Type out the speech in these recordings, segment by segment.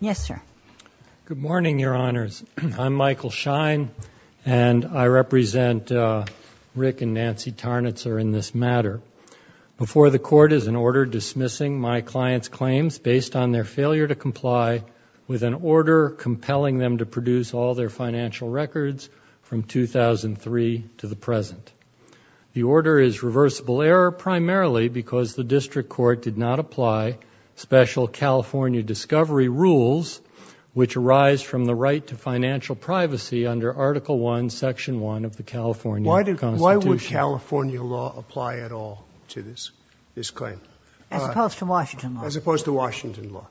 Yes sir. Good morning your honors. I'm Michael Schein and I represent Rick and Nancy Tarnutzer in this matter. Before the court is an order dismissing my client's claims based on their failure to comply with an order compelling them to produce all their financial records from 2003 to the present. The order is reversible error primarily because the district court did not apply special California discovery rules which arise from the right to financial privacy under article 1 section 1 of the California Constitution. Why would California law apply at all to this this claim? As opposed to Washington. As opposed to Washington law.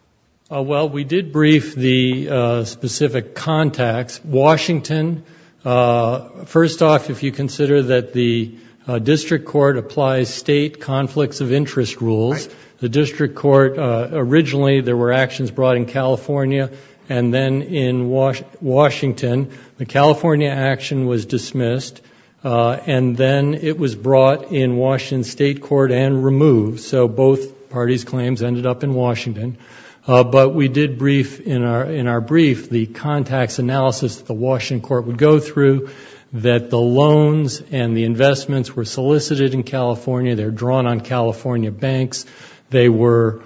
Well we did brief the specific contacts. Washington first off if you consider that the district court applies state conflicts of interest rules the district court originally there were actions brought in California and then in Washington. The California action was dismissed and then it was brought in Washington state court and removed. So both parties claims ended up in Washington. But we did brief in our brief the contacts analysis the Washington court would go through that the loans and the investments were California banks. They were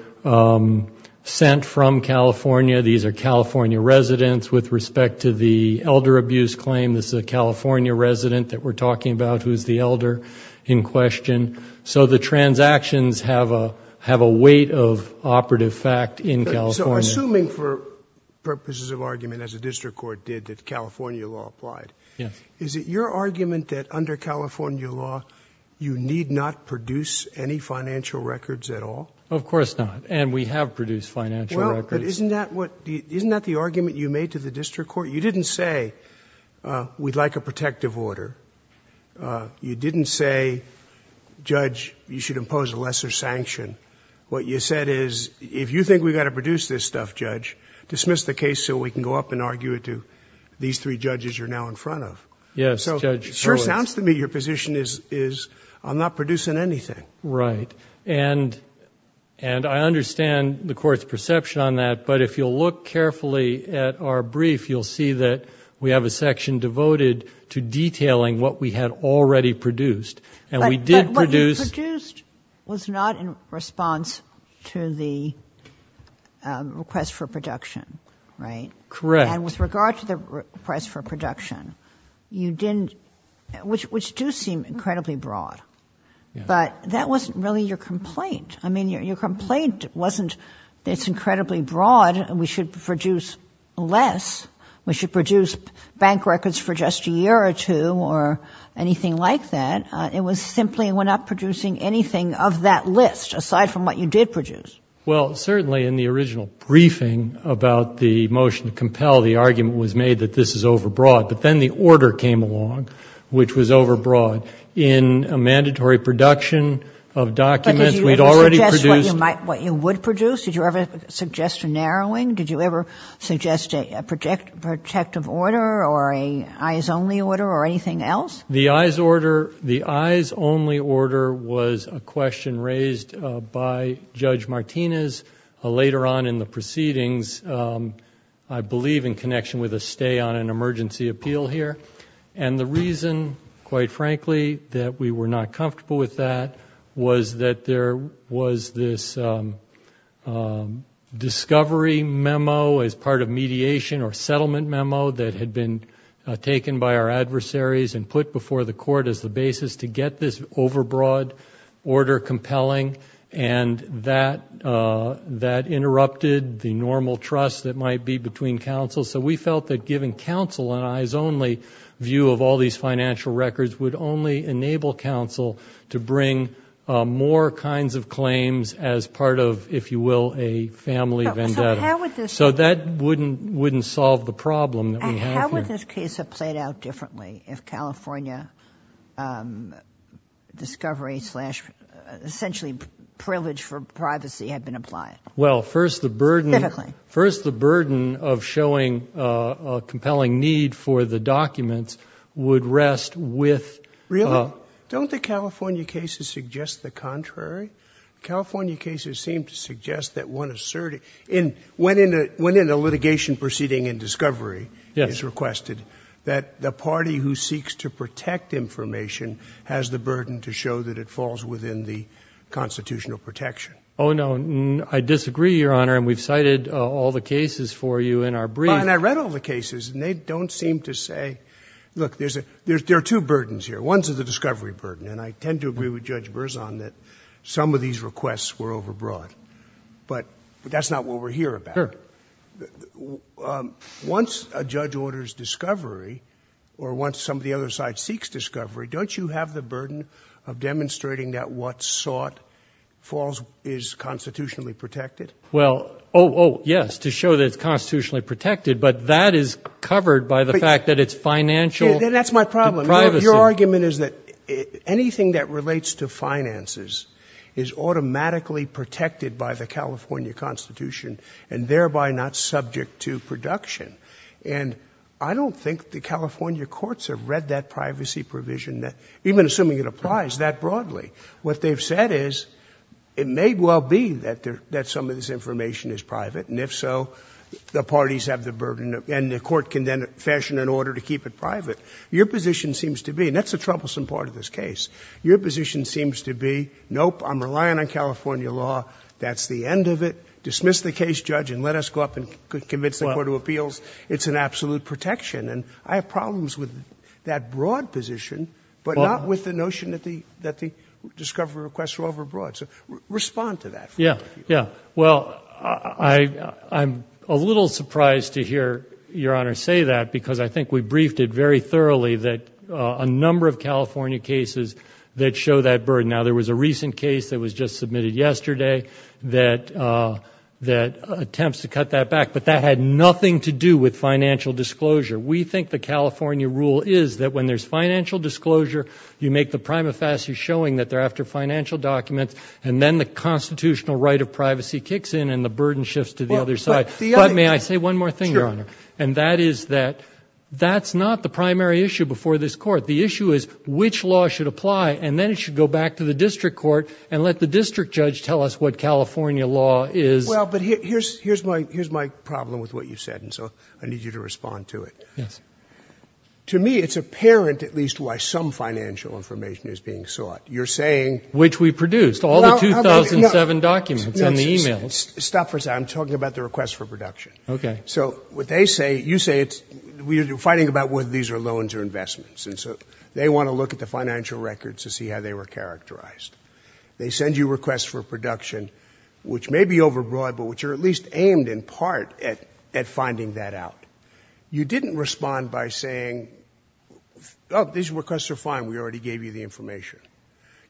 sent from California. These are California residents with respect to the elder abuse claim. This is a California resident that we're talking about who is the elder in question. So the transactions have a weight of operative fact in California. So assuming for purposes of argument as a district court did that California law applied. Is it your argument that under financial records at all? Of course not and we have produced financial records. Isn't that the argument you made to the district court? You didn't say we'd like a protective order. You didn't say judge you should impose a lesser sanction. What you said is if you think we've got to produce this stuff judge dismiss the case so we can go up and argue it to these three judges you're now in front of. Yes judge. So it sure sounds to me your position is I'm not producing anything. Right and and I understand the court's perception on that but if you'll look carefully at our brief you'll see that we have a section devoted to detailing what we had already produced and we did produce. But what you produced was not in response to the request for production right? Correct. And with regard to the request for production you didn't which which do seem incredibly broad but that wasn't really your complaint. I mean your complaint wasn't it's incredibly broad and we should produce less. We should produce bank records for just a year or two or anything like that. It was simply we're not producing anything of that list aside from what you did produce. Well certainly in the original briefing about the motion to compel the argument was made that this is overbroad but then the order came along which was overbroad in a mandatory production of documents we'd already produced. But did you ever suggest what you would produce? Did you ever suggest a narrowing? Did you ever suggest a protective order or a eyes only order or anything else? The eyes order the eyes only order was a question raised by Judge Martinez later on in the proceedings I believe in connection with a stay on an emergency appeal here and the reason quite frankly that we were not comfortable with that was that there was this discovery memo as part of mediation or settlement memo that had been taken by our adversaries and put and that interrupted the normal trust that might be between counsels. So we felt that giving counsel an eyes only view of all these financial records would only enable counsel to bring more kinds of claims as part of if you will a family vendetta. So that wouldn't solve the problem. How would this case have played out if actually privilege for privacy had been applied? Well first the burden first the burden of showing a compelling need for the documents would rest with. Really? Don't the California cases suggest the contrary? California cases seem to suggest that one asserted in when in a litigation proceeding in discovery is requested that the party who seeks to protect information has the burden to show that it falls within the constitutional protection. Oh no I disagree your honor and we've cited all the cases for you in our brief. And I read all the cases and they don't seem to say look there's a there's there are two burdens here. One's of the discovery burden and I tend to agree with Judge Berzon that some of these requests were overbroad but that's not what we're here about. Once a judge orders discovery or once some of the other side seeks discovery don't you have the burden of demonstrating that what's sought falls is constitutionally protected? Well oh yes to show that it's constitutionally protected but that is covered by the fact that it's financial. That's my problem. Your argument is that anything that relates to finances is automatically protected by the California Constitution and thereby not subject to production. And I don't think the California courts have read that privacy provision that even assuming it applies that broadly what they've said is it may well be that there that some of this information is private and if so the parties have the burden and the court can then fashion an order to keep it private. Your position seems to be and that's the troublesome part of this case. Your position seems to be nope I'm relying on California law that's the end of it. Dismiss the case judge and let us go up and convince the Court of Appeals it's an absolute protection and I have problems with that broad position but not with the notion that the that the discovery requests were overbroad. So respond to that. Yeah yeah well I I'm a little surprised to hear your honor say that because I think we briefed it very thoroughly that a number of California cases that show that burden. Now there was a recent case that was just submitted yesterday that that attempts to cut that back but that had nothing to do with financial disclosure. We think the California rule is that when there's financial disclosure you make the prima facie showing that they're after financial documents and then the constitutional right of privacy kicks in and the burden shifts to the other side. But may I say one more thing your honor and that is that that's not the primary issue before this court. The issue is which law should apply and then it should go back to the district court and let the district judge tell us what here's my problem with what you said and so I need you to respond to it. Yes. To me it's apparent at least why some financial information is being sought. You're saying. Which we produced all the 2007 documents and the emails. Stop for a second. I'm talking about the requests for production. Okay. So what they say you say it's we're fighting about whether these are loans or investments and so they want to look at the financial records to see how they were characterized. They send you requests for production which may be overbroad but which are at least aimed in part at at finding that out. You didn't respond by saying oh these requests are fine we already gave you the information.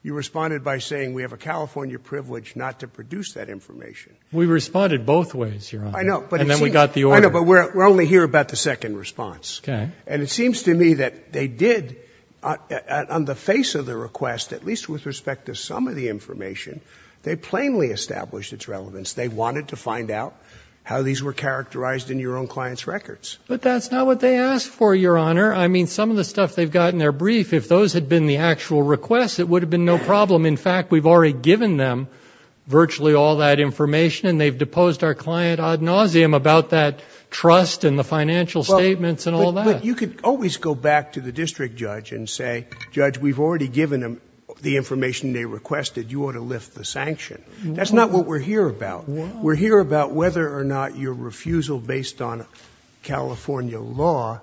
You responded by saying we have a California privilege not to produce that information. We responded both ways your honor. I know. And then we got the order. I know but we're only here about the second response. Okay. And it seems to me that they did on the face of the request at least with respect to some of the find out how these were characterized in your own clients records. But that's not what they asked for your honor. I mean some of the stuff they've got in their brief if those had been the actual requests it would have been no problem. In fact we've already given them virtually all that information and they've deposed our client ad nauseum about that trust and the financial statements and all that. But you could always go back to the district judge and say judge we've already given them the information they requested you ought to lift the sanction. That's not what we're here about. We're here about whether or not your refusal based on California law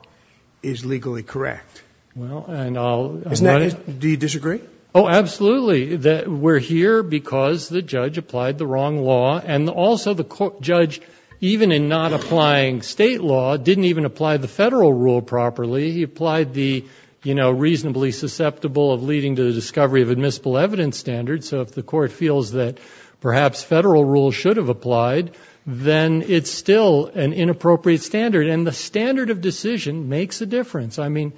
is legally correct. Well and I'll. Isn't that. Do you disagree? Oh absolutely that we're here because the judge applied the wrong law and also the court judge even in not applying state law didn't even apply the federal rule properly. He applied the you know reasonably susceptible of leading to the discovery of admissible evidence standard. So if the court feels that perhaps federal rule should have applied then it's still an inappropriate standard and the standard of decision makes a difference. I mean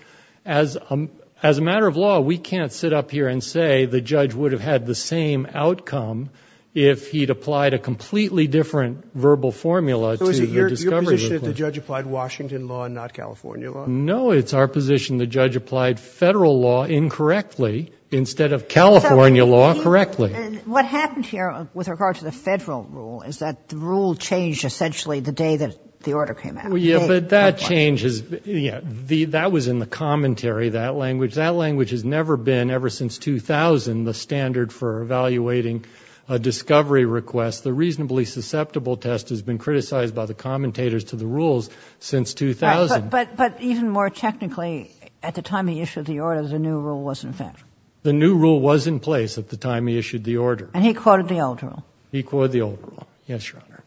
as a matter of law we can't sit up here and say the judge would have had the same outcome if he'd applied a completely different verbal formula. So is it your position that the judge applied Washington law not California law? No it's our position the judge applied federal law incorrectly instead of California law correctly. What happened here with regard to the federal rule is that the rule changed essentially the day that the order came out. Yeah but that change is yeah the that was in the commentary that language that language has never been ever since 2000 the standard for evaluating a discovery request the reasonably susceptible test has been criticized by the commentators to the rules since 2000. But even more technically at the time he issued the order the new rule was in effect. The new rule was in place at the time he issued the order. And he quoted the old rule. He quoted the old rule. Yes your honor.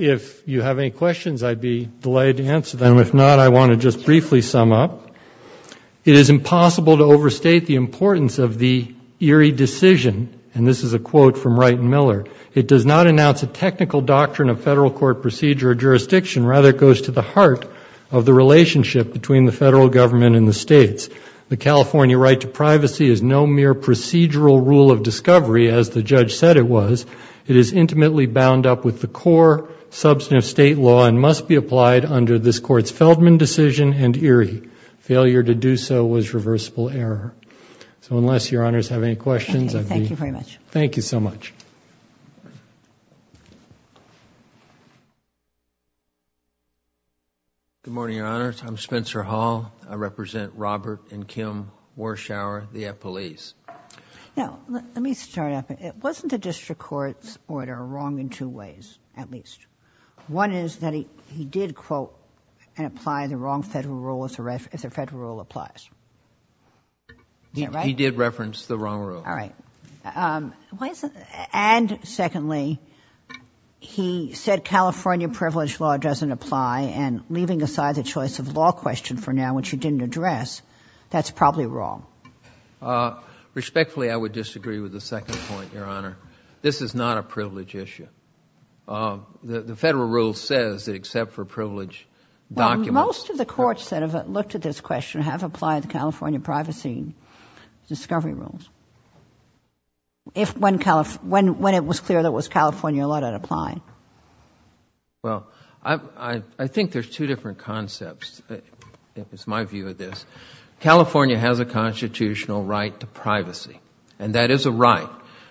If you have any questions I'd be delighted to answer them. If not I want to just briefly sum up. It is impossible to overstate the importance of the Erie decision and this is a quote from Wright and Miller. It does not announce a technical doctrine of federal court procedure or of the relationship between the federal government and the states. The California right to privacy is no mere procedural rule of discovery as the judge said it was. It is intimately bound up with the core substantive state law and must be applied under this courts Feldman decision and Erie. Failure to do so was reversible error. So unless your honors have any questions. Thank you very much. Thank you so much. Good morning your honors. I'm Spencer Hall. I represent Robert and Kim Warshower the F police. Now let me start up. It wasn't the district court's order wrong in two ways at least. One is that he did quote and apply the wrong federal rule if the federal rule applies. He did reference the wrong rule. All right. And secondly he said California privilege law doesn't apply and leaving aside the choice of law question for now which you didn't address. That's probably wrong. Respectfully I would disagree with the second point your honor. This is not a privilege issue. The federal rule says that except for privilege documents. Most of the courts that have looked at this question have applied the California privacy discovery rules. If when it was clear that it was California law to apply. Well I think there's two different concepts. It's my view of this. California has a constitutional right to privacy and that is a right.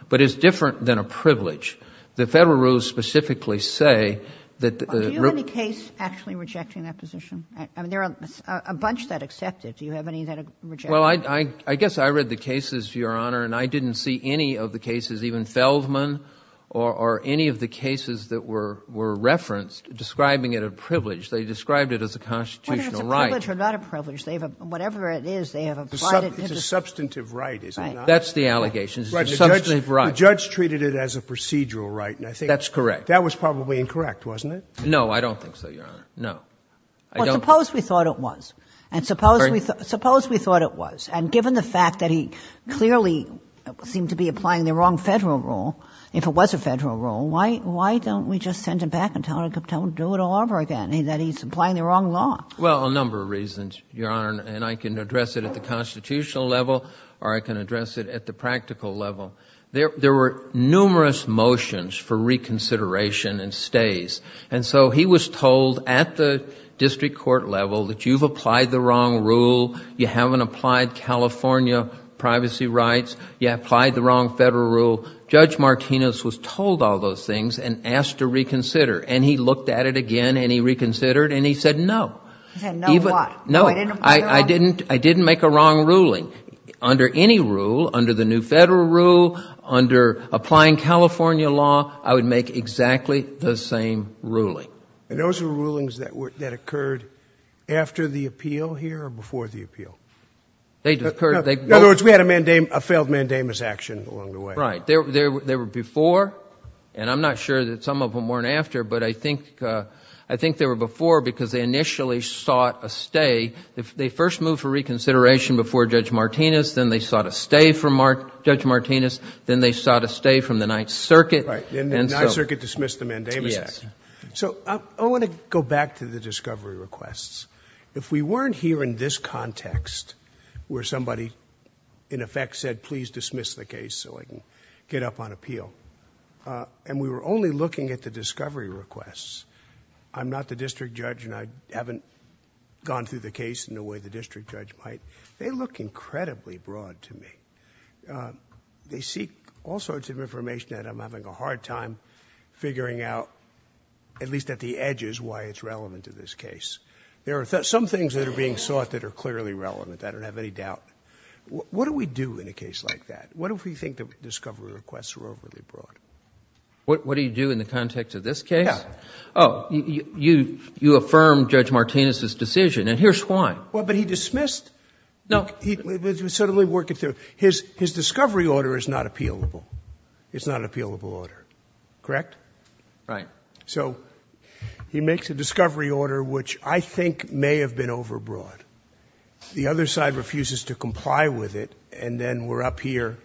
But it's different than a privilege. The federal rules specifically say that. Do you have any case actually rejecting that position? I mean there are a bunch that accept it. Do you have any that reject? Well I guess I read the cases even Feldman or any of the cases that were referenced describing it a privilege. They described it as a constitutional right. Whether it's a privilege or not a privilege. Whatever it is they have applied it. It's a substantive right isn't it? That's the allegations. It's a substantive right. The judge treated it as a procedural right. That's correct. That was probably incorrect wasn't it? No I don't think so your honor. No. Well suppose we thought it was. And suppose we thought it was. And given the fact that he clearly seemed to be applying the wrong federal rule. If it was a federal rule. Why don't we just send him back and tell him to do it all over again. That he's applying the wrong law. Well a number of reasons. Your honor and I can address it at the constitutional level or I can address it at the practical level. There were numerous motions for reconsideration and stays. And so he was told at the district court level that you've applied the wrong privacy rights. You applied the wrong federal rule. Judge Martinez was told all those things and asked to reconsider. And he looked at it again and he reconsidered and he said no. He said no what? No I didn't make a wrong ruling. Under any rule, under the new federal rule, under applying California law, I would make exactly the same ruling. And those are rulings that occurred after the appeal here or before the appeal? In other words, we had a failed mandamus action along the way. Right. They were before and I'm not sure that some of them weren't after. But I think they were before because they initially sought a stay. They first moved for reconsideration before Judge Martinez. Then they sought a stay from Judge Martinez. Then they sought a stay from the Ninth Circuit. And the Ninth Circuit dismissed the mandamus action. So I want to go back to the discovery requests. If we weren't here in this context where somebody in effect said please dismiss the case so I can get up on appeal. And we were only looking at the discovery requests. I'm not the district judge and I haven't gone through the case in a way the district judge might. They look incredibly broad to me. They seek all sorts of information and I'm having a hard time figuring out at least at the edges why it's relevant to this case. There are some things that are being sought that are clearly relevant. I don't have any doubt. What do we do in a case like that? What if we think the discovery requests are overly broad? What do you do in the context of this case? Yeah. Oh, you affirm Judge Martinez's decision and here's why. Well, but he dismissed. No. He was certainly working through. His discovery order is not appealable. It's not an appealable order. Correct? Right. So he makes a discovery order which I think may have been overbroad. The other side refuses to comply with it and then we're up here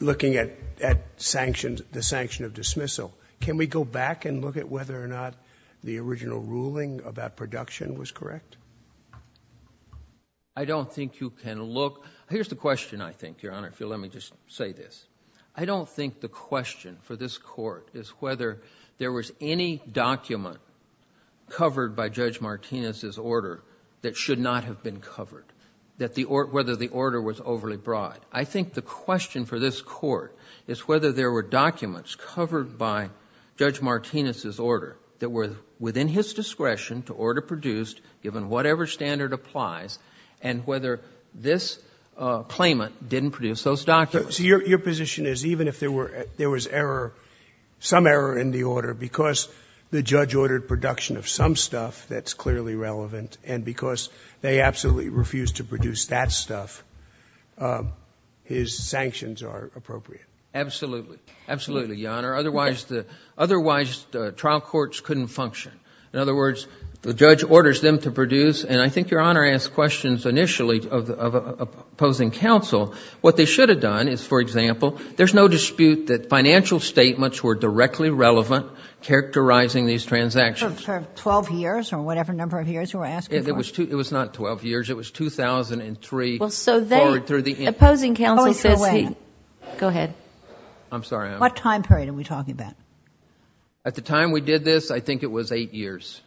looking at the sanction of dismissal. Can we go back and look at whether or not the original ruling about production was correct? I don't think you can look. Here's the question I think, Your Honor, if you'll let me just say this. I don't think the question for this court is whether there was any document covered by Judge Martinez's order that should not have been covered, whether the order was overly broad. I think the question for this court is whether there were documents covered by Judge Martinez's order that within his discretion to order produced given whatever standard applies and whether this claimant didn't produce those documents. So your position is even if there was error, some error in the order because the judge ordered production of some stuff that's clearly relevant and because they absolutely refuse to produce that stuff, his sanctions are appropriate. Absolutely. Absolutely, Your Honor. Otherwise, trial courts couldn't function. In other words, the judge orders them to produce and I think Your Honor asked questions initially of opposing counsel. What they should have done is, for example, there's no dispute that financial statements were directly relevant characterizing these transactions. For 12 years or whatever number of years you were asking for. It was not 12 years. It was 2003 forward through the end. Go ahead. What time period are we talking about? At the time we did this, I think it was eight years.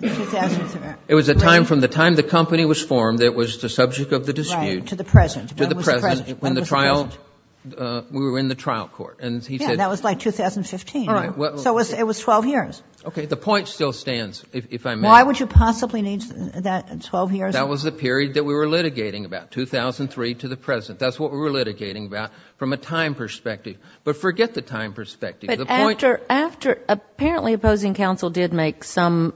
It was a time from the time the company was formed that was the subject of the dispute. To the present. We were in the trial court and he said. That was like 2015. So it was 12 years. Okay, the point still stands if I may. Why would you possibly need that 12 years? That was the period that we were litigating about 2003 to the present. That's what we were litigating about from a time perspective. But forget the time perspective. Apparently opposing counsel did make some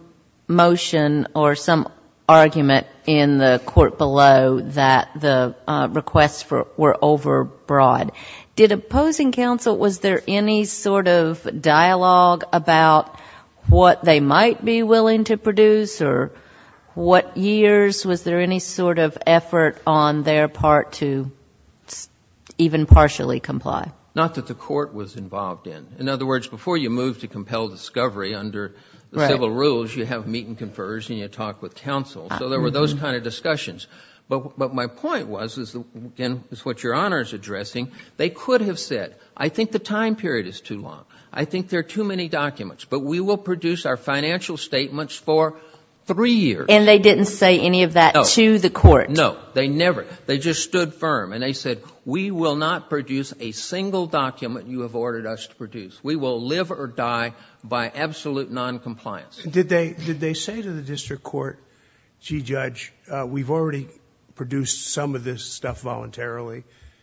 motion or some argument in the court below that the requests were over broad. Did opposing counsel, was there any sort of dialogue about what they might be willing to even partially comply? Not that the court was involved in. In other words, before you move to compel discovery under the civil rules, you have meet and confers and you talk with counsel. So there were those kind of discussions. But my point was, is what your honor is addressing. They could have said, I think the time period is too long. I think there are too many documents. But we will produce our financial statements for three years. And they didn't say any of that to the court? No, they never. They just stood firm. And they said, we will not produce a single document you have ordered us to produce. We will live or die by absolute non-compliance. Did they say to the district court, gee, judge, we've already produced some of this stuff voluntarily?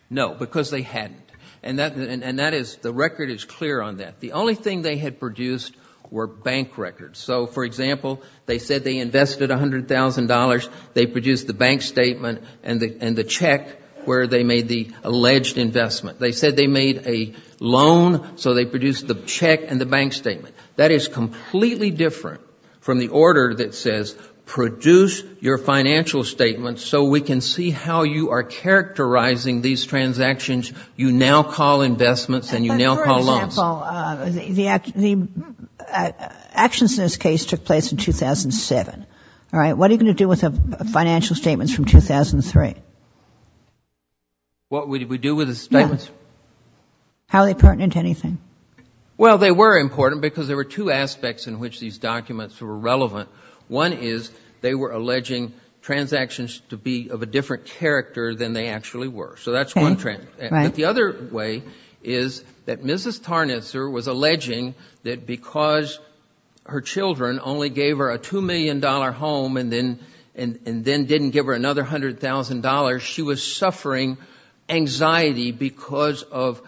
No, because they hadn't. And that is, the record is clear on that. The only thing they had produced were bank records. So for example, they said they invested $100,000, they produced the bank statement, and the check where they made the alleged investment. They said they made a loan, so they produced the check and the bank statement. That is completely different from the order that says, produce your financial statements so we can see how you are characterizing these transactions. You now call investments and you now call loans. But for example, the actions in this case took place in 2007. What are you going to do with the financial statements from 2003? What did we do with the statements? How they pertinent to anything? Well, they were important because there were two aspects in which these documents were relevant. One is, they were alleging transactions to be of a different character than they actually were. So that's one trend. But the other way is that Mrs. Tarnitzer was alleging that because her children only gave her a $2 million home and then didn't give her another $100,000, she was suffering anxiety because of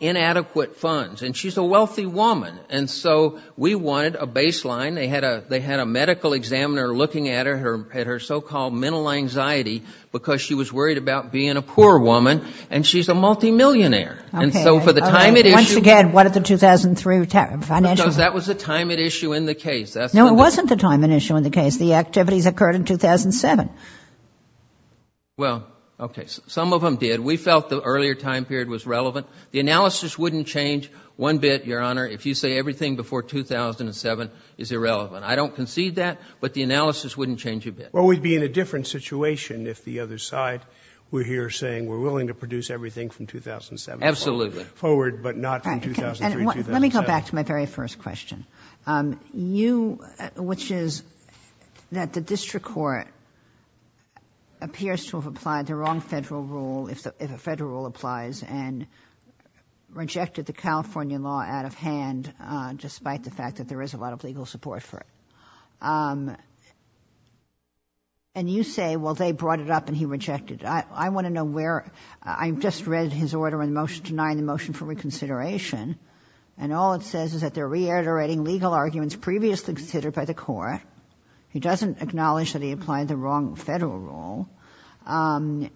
inadequate funds. And she's a wealthy woman. And so we wanted a baseline. They had a medical examiner looking at her, at her so-called mental anxiety, because she was worried about being a poor woman. And she's a multimillionaire. And so for the time it issued... Once again, what did the 2003 financial... That was the time it issued in the case. No, it wasn't the time it issued in the case. The activities occurred in 2007. Well, okay. Some of them did. We felt the earlier time period was relevant. The analysis wouldn't change one bit, Your Honor, if you say everything before 2007 is irrelevant. I don't concede that. But the analysis wouldn't change a bit. Well, we'd be in a different situation if the other side were here saying we're willing to produce everything from 2007. Absolutely. Forward, but not from 2003, 2007. Let me go back to my very first question. You... Which is that the district court appears to have applied the wrong federal rule, if a federal rule applies, and rejected the California law out of hand, despite the fact that there is a lot of legal support for it. And you say, well, they brought it up and he rejected it. I want to know where... I just read his order in the motion denying the motion for reconsideration. And all it says is that they're reiterating legal arguments previously considered by the court. He doesn't acknowledge that he applied the wrong federal rule. And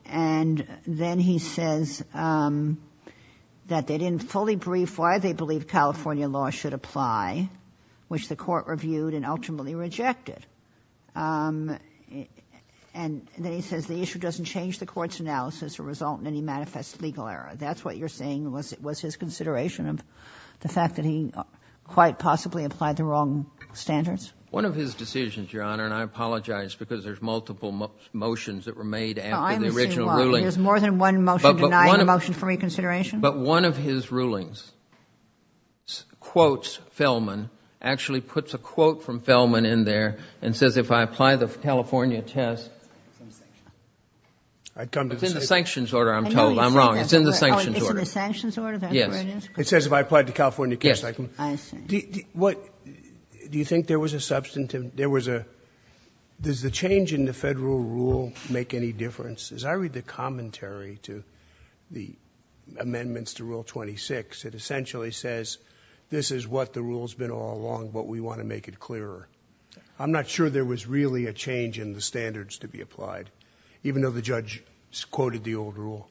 then he says that they didn't fully brief why they believe California law should apply, which the court reviewed and ultimately rejected. And then he says the issue doesn't change the court's analysis or result in any manifest legal error. That's what you're saying, was his consideration of the fact that he quite possibly applied the wrong standards? One of his decisions, Your Honor, and I apologize because there's multiple motions that were made after the original ruling. There's more than one motion denying the motion for reconsideration. But one of his rulings quotes Fellman, actually puts a quote from Fellman in there and says, if I apply the California test... It's in the sanctions order, I'm told. I'm wrong. It's in the sanctions order. It's in the sanctions order? Yes. It says, if I applied to California case, I can... Yes, I see. Do you think there was a substantive... Does the change in the federal rule make any difference? As I read the commentary to the amendments to rule 26, it essentially says, this is what the rule's been all along, but we want to make it clearer. I'm not sure there was really a change in the standards to be applied, even though the judge quoted the old rule.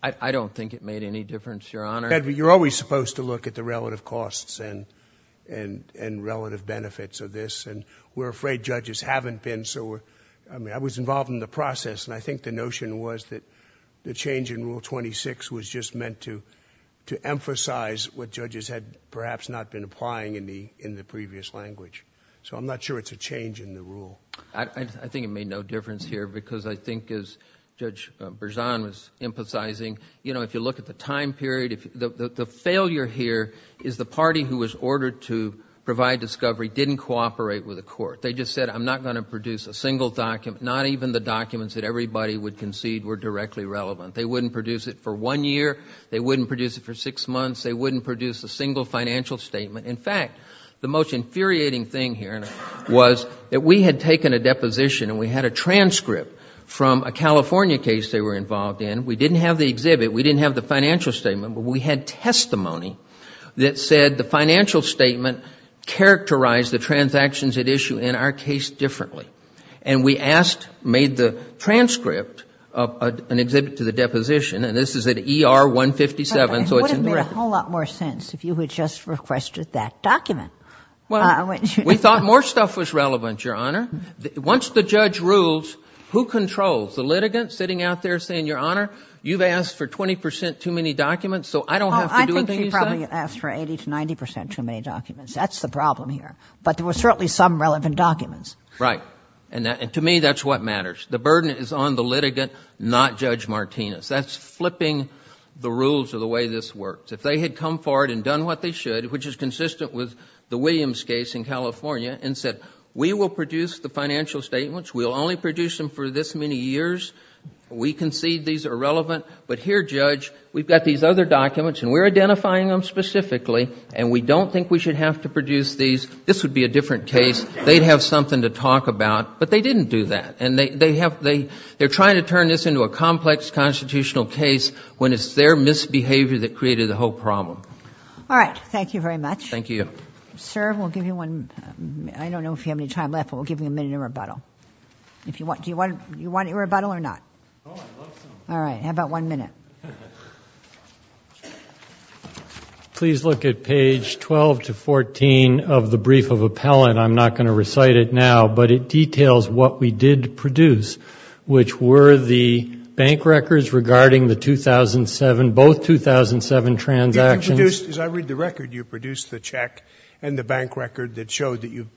I don't think it made any difference, Your Honor. You're always supposed to look at the relative costs and relative benefits of this, and we're afraid judges haven't been. I was involved in the process, and I think the notion was that the change in rule 26 was just meant to emphasize what judges had perhaps not been applying in the previous language. So I'm not sure it's a change in the rule. I think it made no difference here, because I think as Judge Berzon was emphasizing, if you look at the time period, the failure here is the party who was ordered to provide discovery didn't cooperate with the court. They just said, I'm not going to produce a single document, not even the documents that everybody would concede were directly relevant. They wouldn't produce it for one year. They wouldn't produce it for six months. They wouldn't produce a single financial statement. In fact, the most infuriating thing here was that we had taken a deposition, and we had a transcript from a California case they were involved in. We didn't have the exhibit. We didn't have the financial statement, but we had testimony that said the financial statement characterized the transactions at issue in our case differently, and we asked, made the transcript of an exhibit to the deposition, and this is at ER 157, so it's indirect. It would make a whole lot more sense if you had just requested that document. Well, we thought more stuff was relevant, Your Honor. Once the judge rules, who controls? The litigant sitting out there saying, Your Honor, you've asked for 20 percent too many documents, so I don't have to do a thing. I think he probably asked for 80 to 90 percent too many documents. That's the problem here, but there were certainly some relevant documents. Right, and to me, that's what matters. The burden is on the litigant, not Judge Martinez. That's flipping the rules of the way this works. If they had come forward and done what they should, which is consistent with the Williams case in California, and said, we will produce the financial statements, we'll only produce them for this many years, we concede these are relevant, but here, Judge, we've got these other documents, and we're identifying them specifically, and we don't think we should have to produce these. This would be a different case. They'd have something to talk about, but they didn't do that, and they're trying to turn this into a complex constitutional case when it's their misbehavior that created the whole problem. All right. Thank you very much. Thank you. Sir, we'll give you one. I don't know if you have any time left, but we'll give you a minute of rebuttal. Do you want a rebuttal or not? Oh, I'd love some. All right. How about one minute? Please look at page 12 to 14 of the brief of appellant. I'm not going to recite it now, but it details what we did produce, which were the bank records regarding the 2007, both 2007 transactions. As I read the record, you produced the check and the bank record that showed that you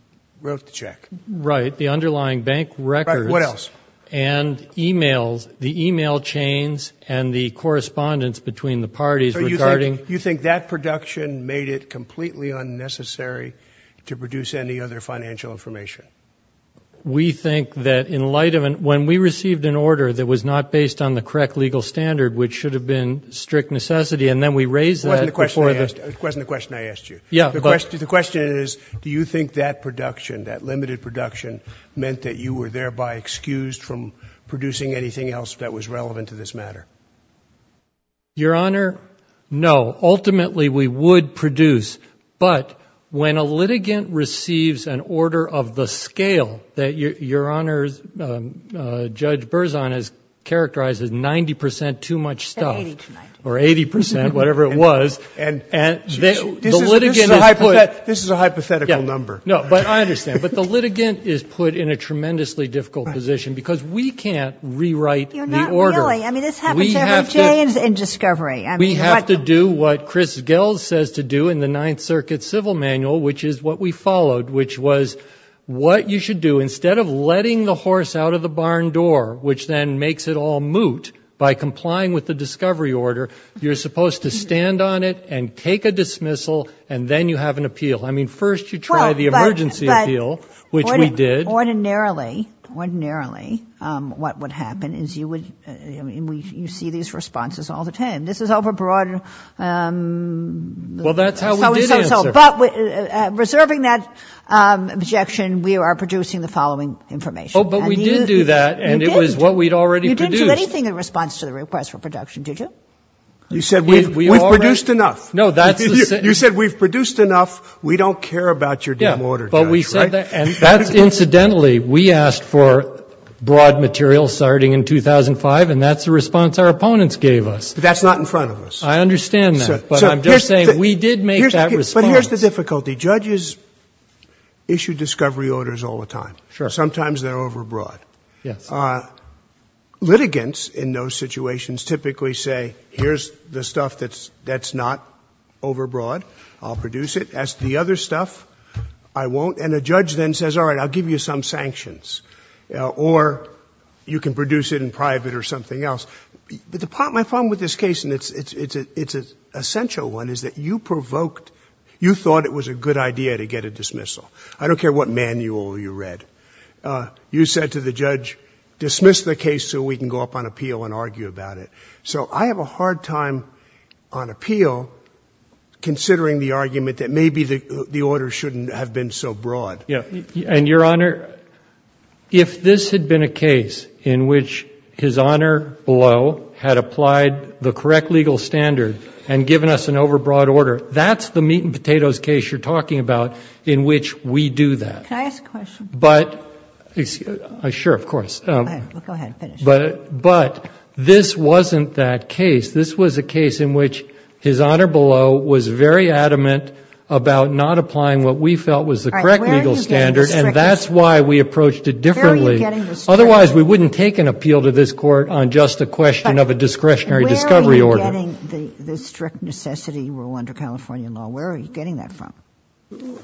wrote the check. Right. The underlying bank records. Right. What else? And emails, the email chains, and the correspondence between the parties regarding. You think that production made it completely unnecessary to produce any other financial information? We think that in light of, when we received an order that was not based on the correct legal standard, which should have been strict necessity, and then we raised that before the. It wasn't the question I asked you. Yeah, but. The question is, do you think that production, that limited production, meant that you were thereby excused from producing anything else that was relevant to this matter? Your Honor, no. Ultimately, we would produce, but when a litigant receives an order of the scale that your Honor's Judge Berzon has characterized as 90% too much stuff. Or 80%, whatever it was. And this is a hypothetical number. No, but I understand. But the litigant is put in a tremendously difficult position because we can't rewrite the order. You're not really. I mean, this happens every day in discovery. We have to do what Chris Gels says to do in the Ninth Circuit Civil Manual, which is what we followed, which was, what you should do, instead of letting the horse out of the barn door, which then makes it all moot by complying with the discovery order, you're supposed to stand on it and take a dismissal, and then you have an appeal. I mean, first you try the emergency appeal, which we did. Ordinarily, ordinarily, what would happen is you would, I mean, you see these responses all the time. This is overbroad. Well, that's how we did it. But reserving that objection, we are producing the following information. Oh, but we did do that, and it was what we'd already produced. You didn't do anything in response to the request for production, did you? You said we've produced enough. No, that's the sentence. You said we've produced enough. We don't care about your damn order, Judge. But we said that. And that's incidentally, we asked for broad material starting in 2005, and that's the response our opponents gave us. But that's not in front of us. I understand that. But I'm just saying we did make that response. But here's the difficulty. Judges issue discovery orders all the time. Sure. Sometimes they're overbroad. Yes. Litigants in those situations typically say, here's the stuff that's not overbroad. I'll produce it. As to the other stuff, I won't. And a judge then says, all right, I'll give you some sanctions. Or you can produce it in private or something else. But my problem with this case, and it's an essential one, is that you provoked you thought it was a good idea to get a dismissal. I don't care what manual you read. You said to the judge, dismiss the case so we can go up on appeal and argue about it. So I have a hard time on appeal considering the argument that maybe the order shouldn't have been so broad. And, Your Honor, if this had been a case in which his honor below had applied the correct legal standard and given us an overbroad order, that's the meat and potatoes case you're talking about in which we do that. Can I ask a question? Sure, of course. Go ahead. Finish. But this wasn't that case. This was a case in which his honor below was very adamant about not applying what we felt was the correct legal standard. And that's why we approached it differently. Otherwise, we wouldn't take an appeal to this court on just a question of a discretionary discovery order. Where are you getting the strict necessity rule under California law? Where are you getting that from?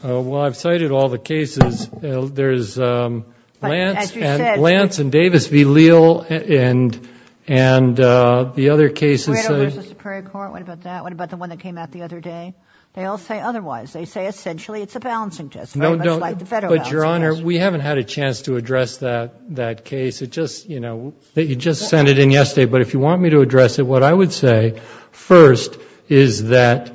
Well, I've cited all the cases. There's Lance and Davis v. Leal and the other cases. What about the one that came out the other day? They all say otherwise. They say essentially it's a balancing test. But, Your Honor, we haven't had a chance to address that case. It just, you know, you just sent it in yesterday. But if you want me to address it, what I would say first is that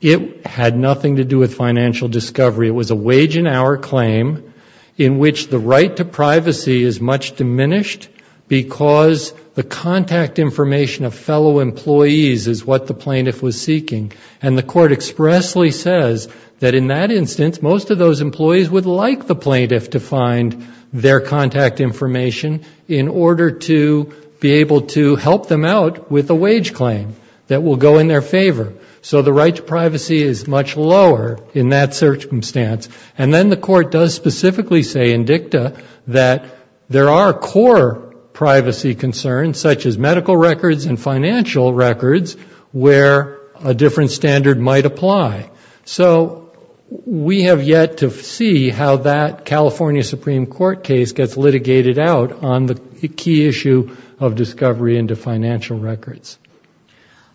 it had nothing to do with financial discovery. It was a wage and hour claim in which the right to privacy is much diminished because the contact information of fellow employees is what the plaintiff was seeking. And the court expressly says that in that instance most of those employees would like the plaintiff to find their contact information in order to be able to help them out with a wage claim that will go in their favor. So the right to privacy is much lower in that circumstance. And then the court does specifically say in dicta that there are core privacy concerns such as medical records and financial records where a different standard might apply. So we have yet to see how that California Supreme Court case gets litigated out on the key issue of discovery into financial records.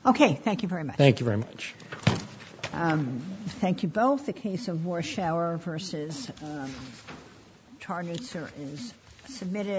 Okay. Thank you very much. Thank you very much. Thank you both. The case of Warshower v. Tarnitzer is submitted.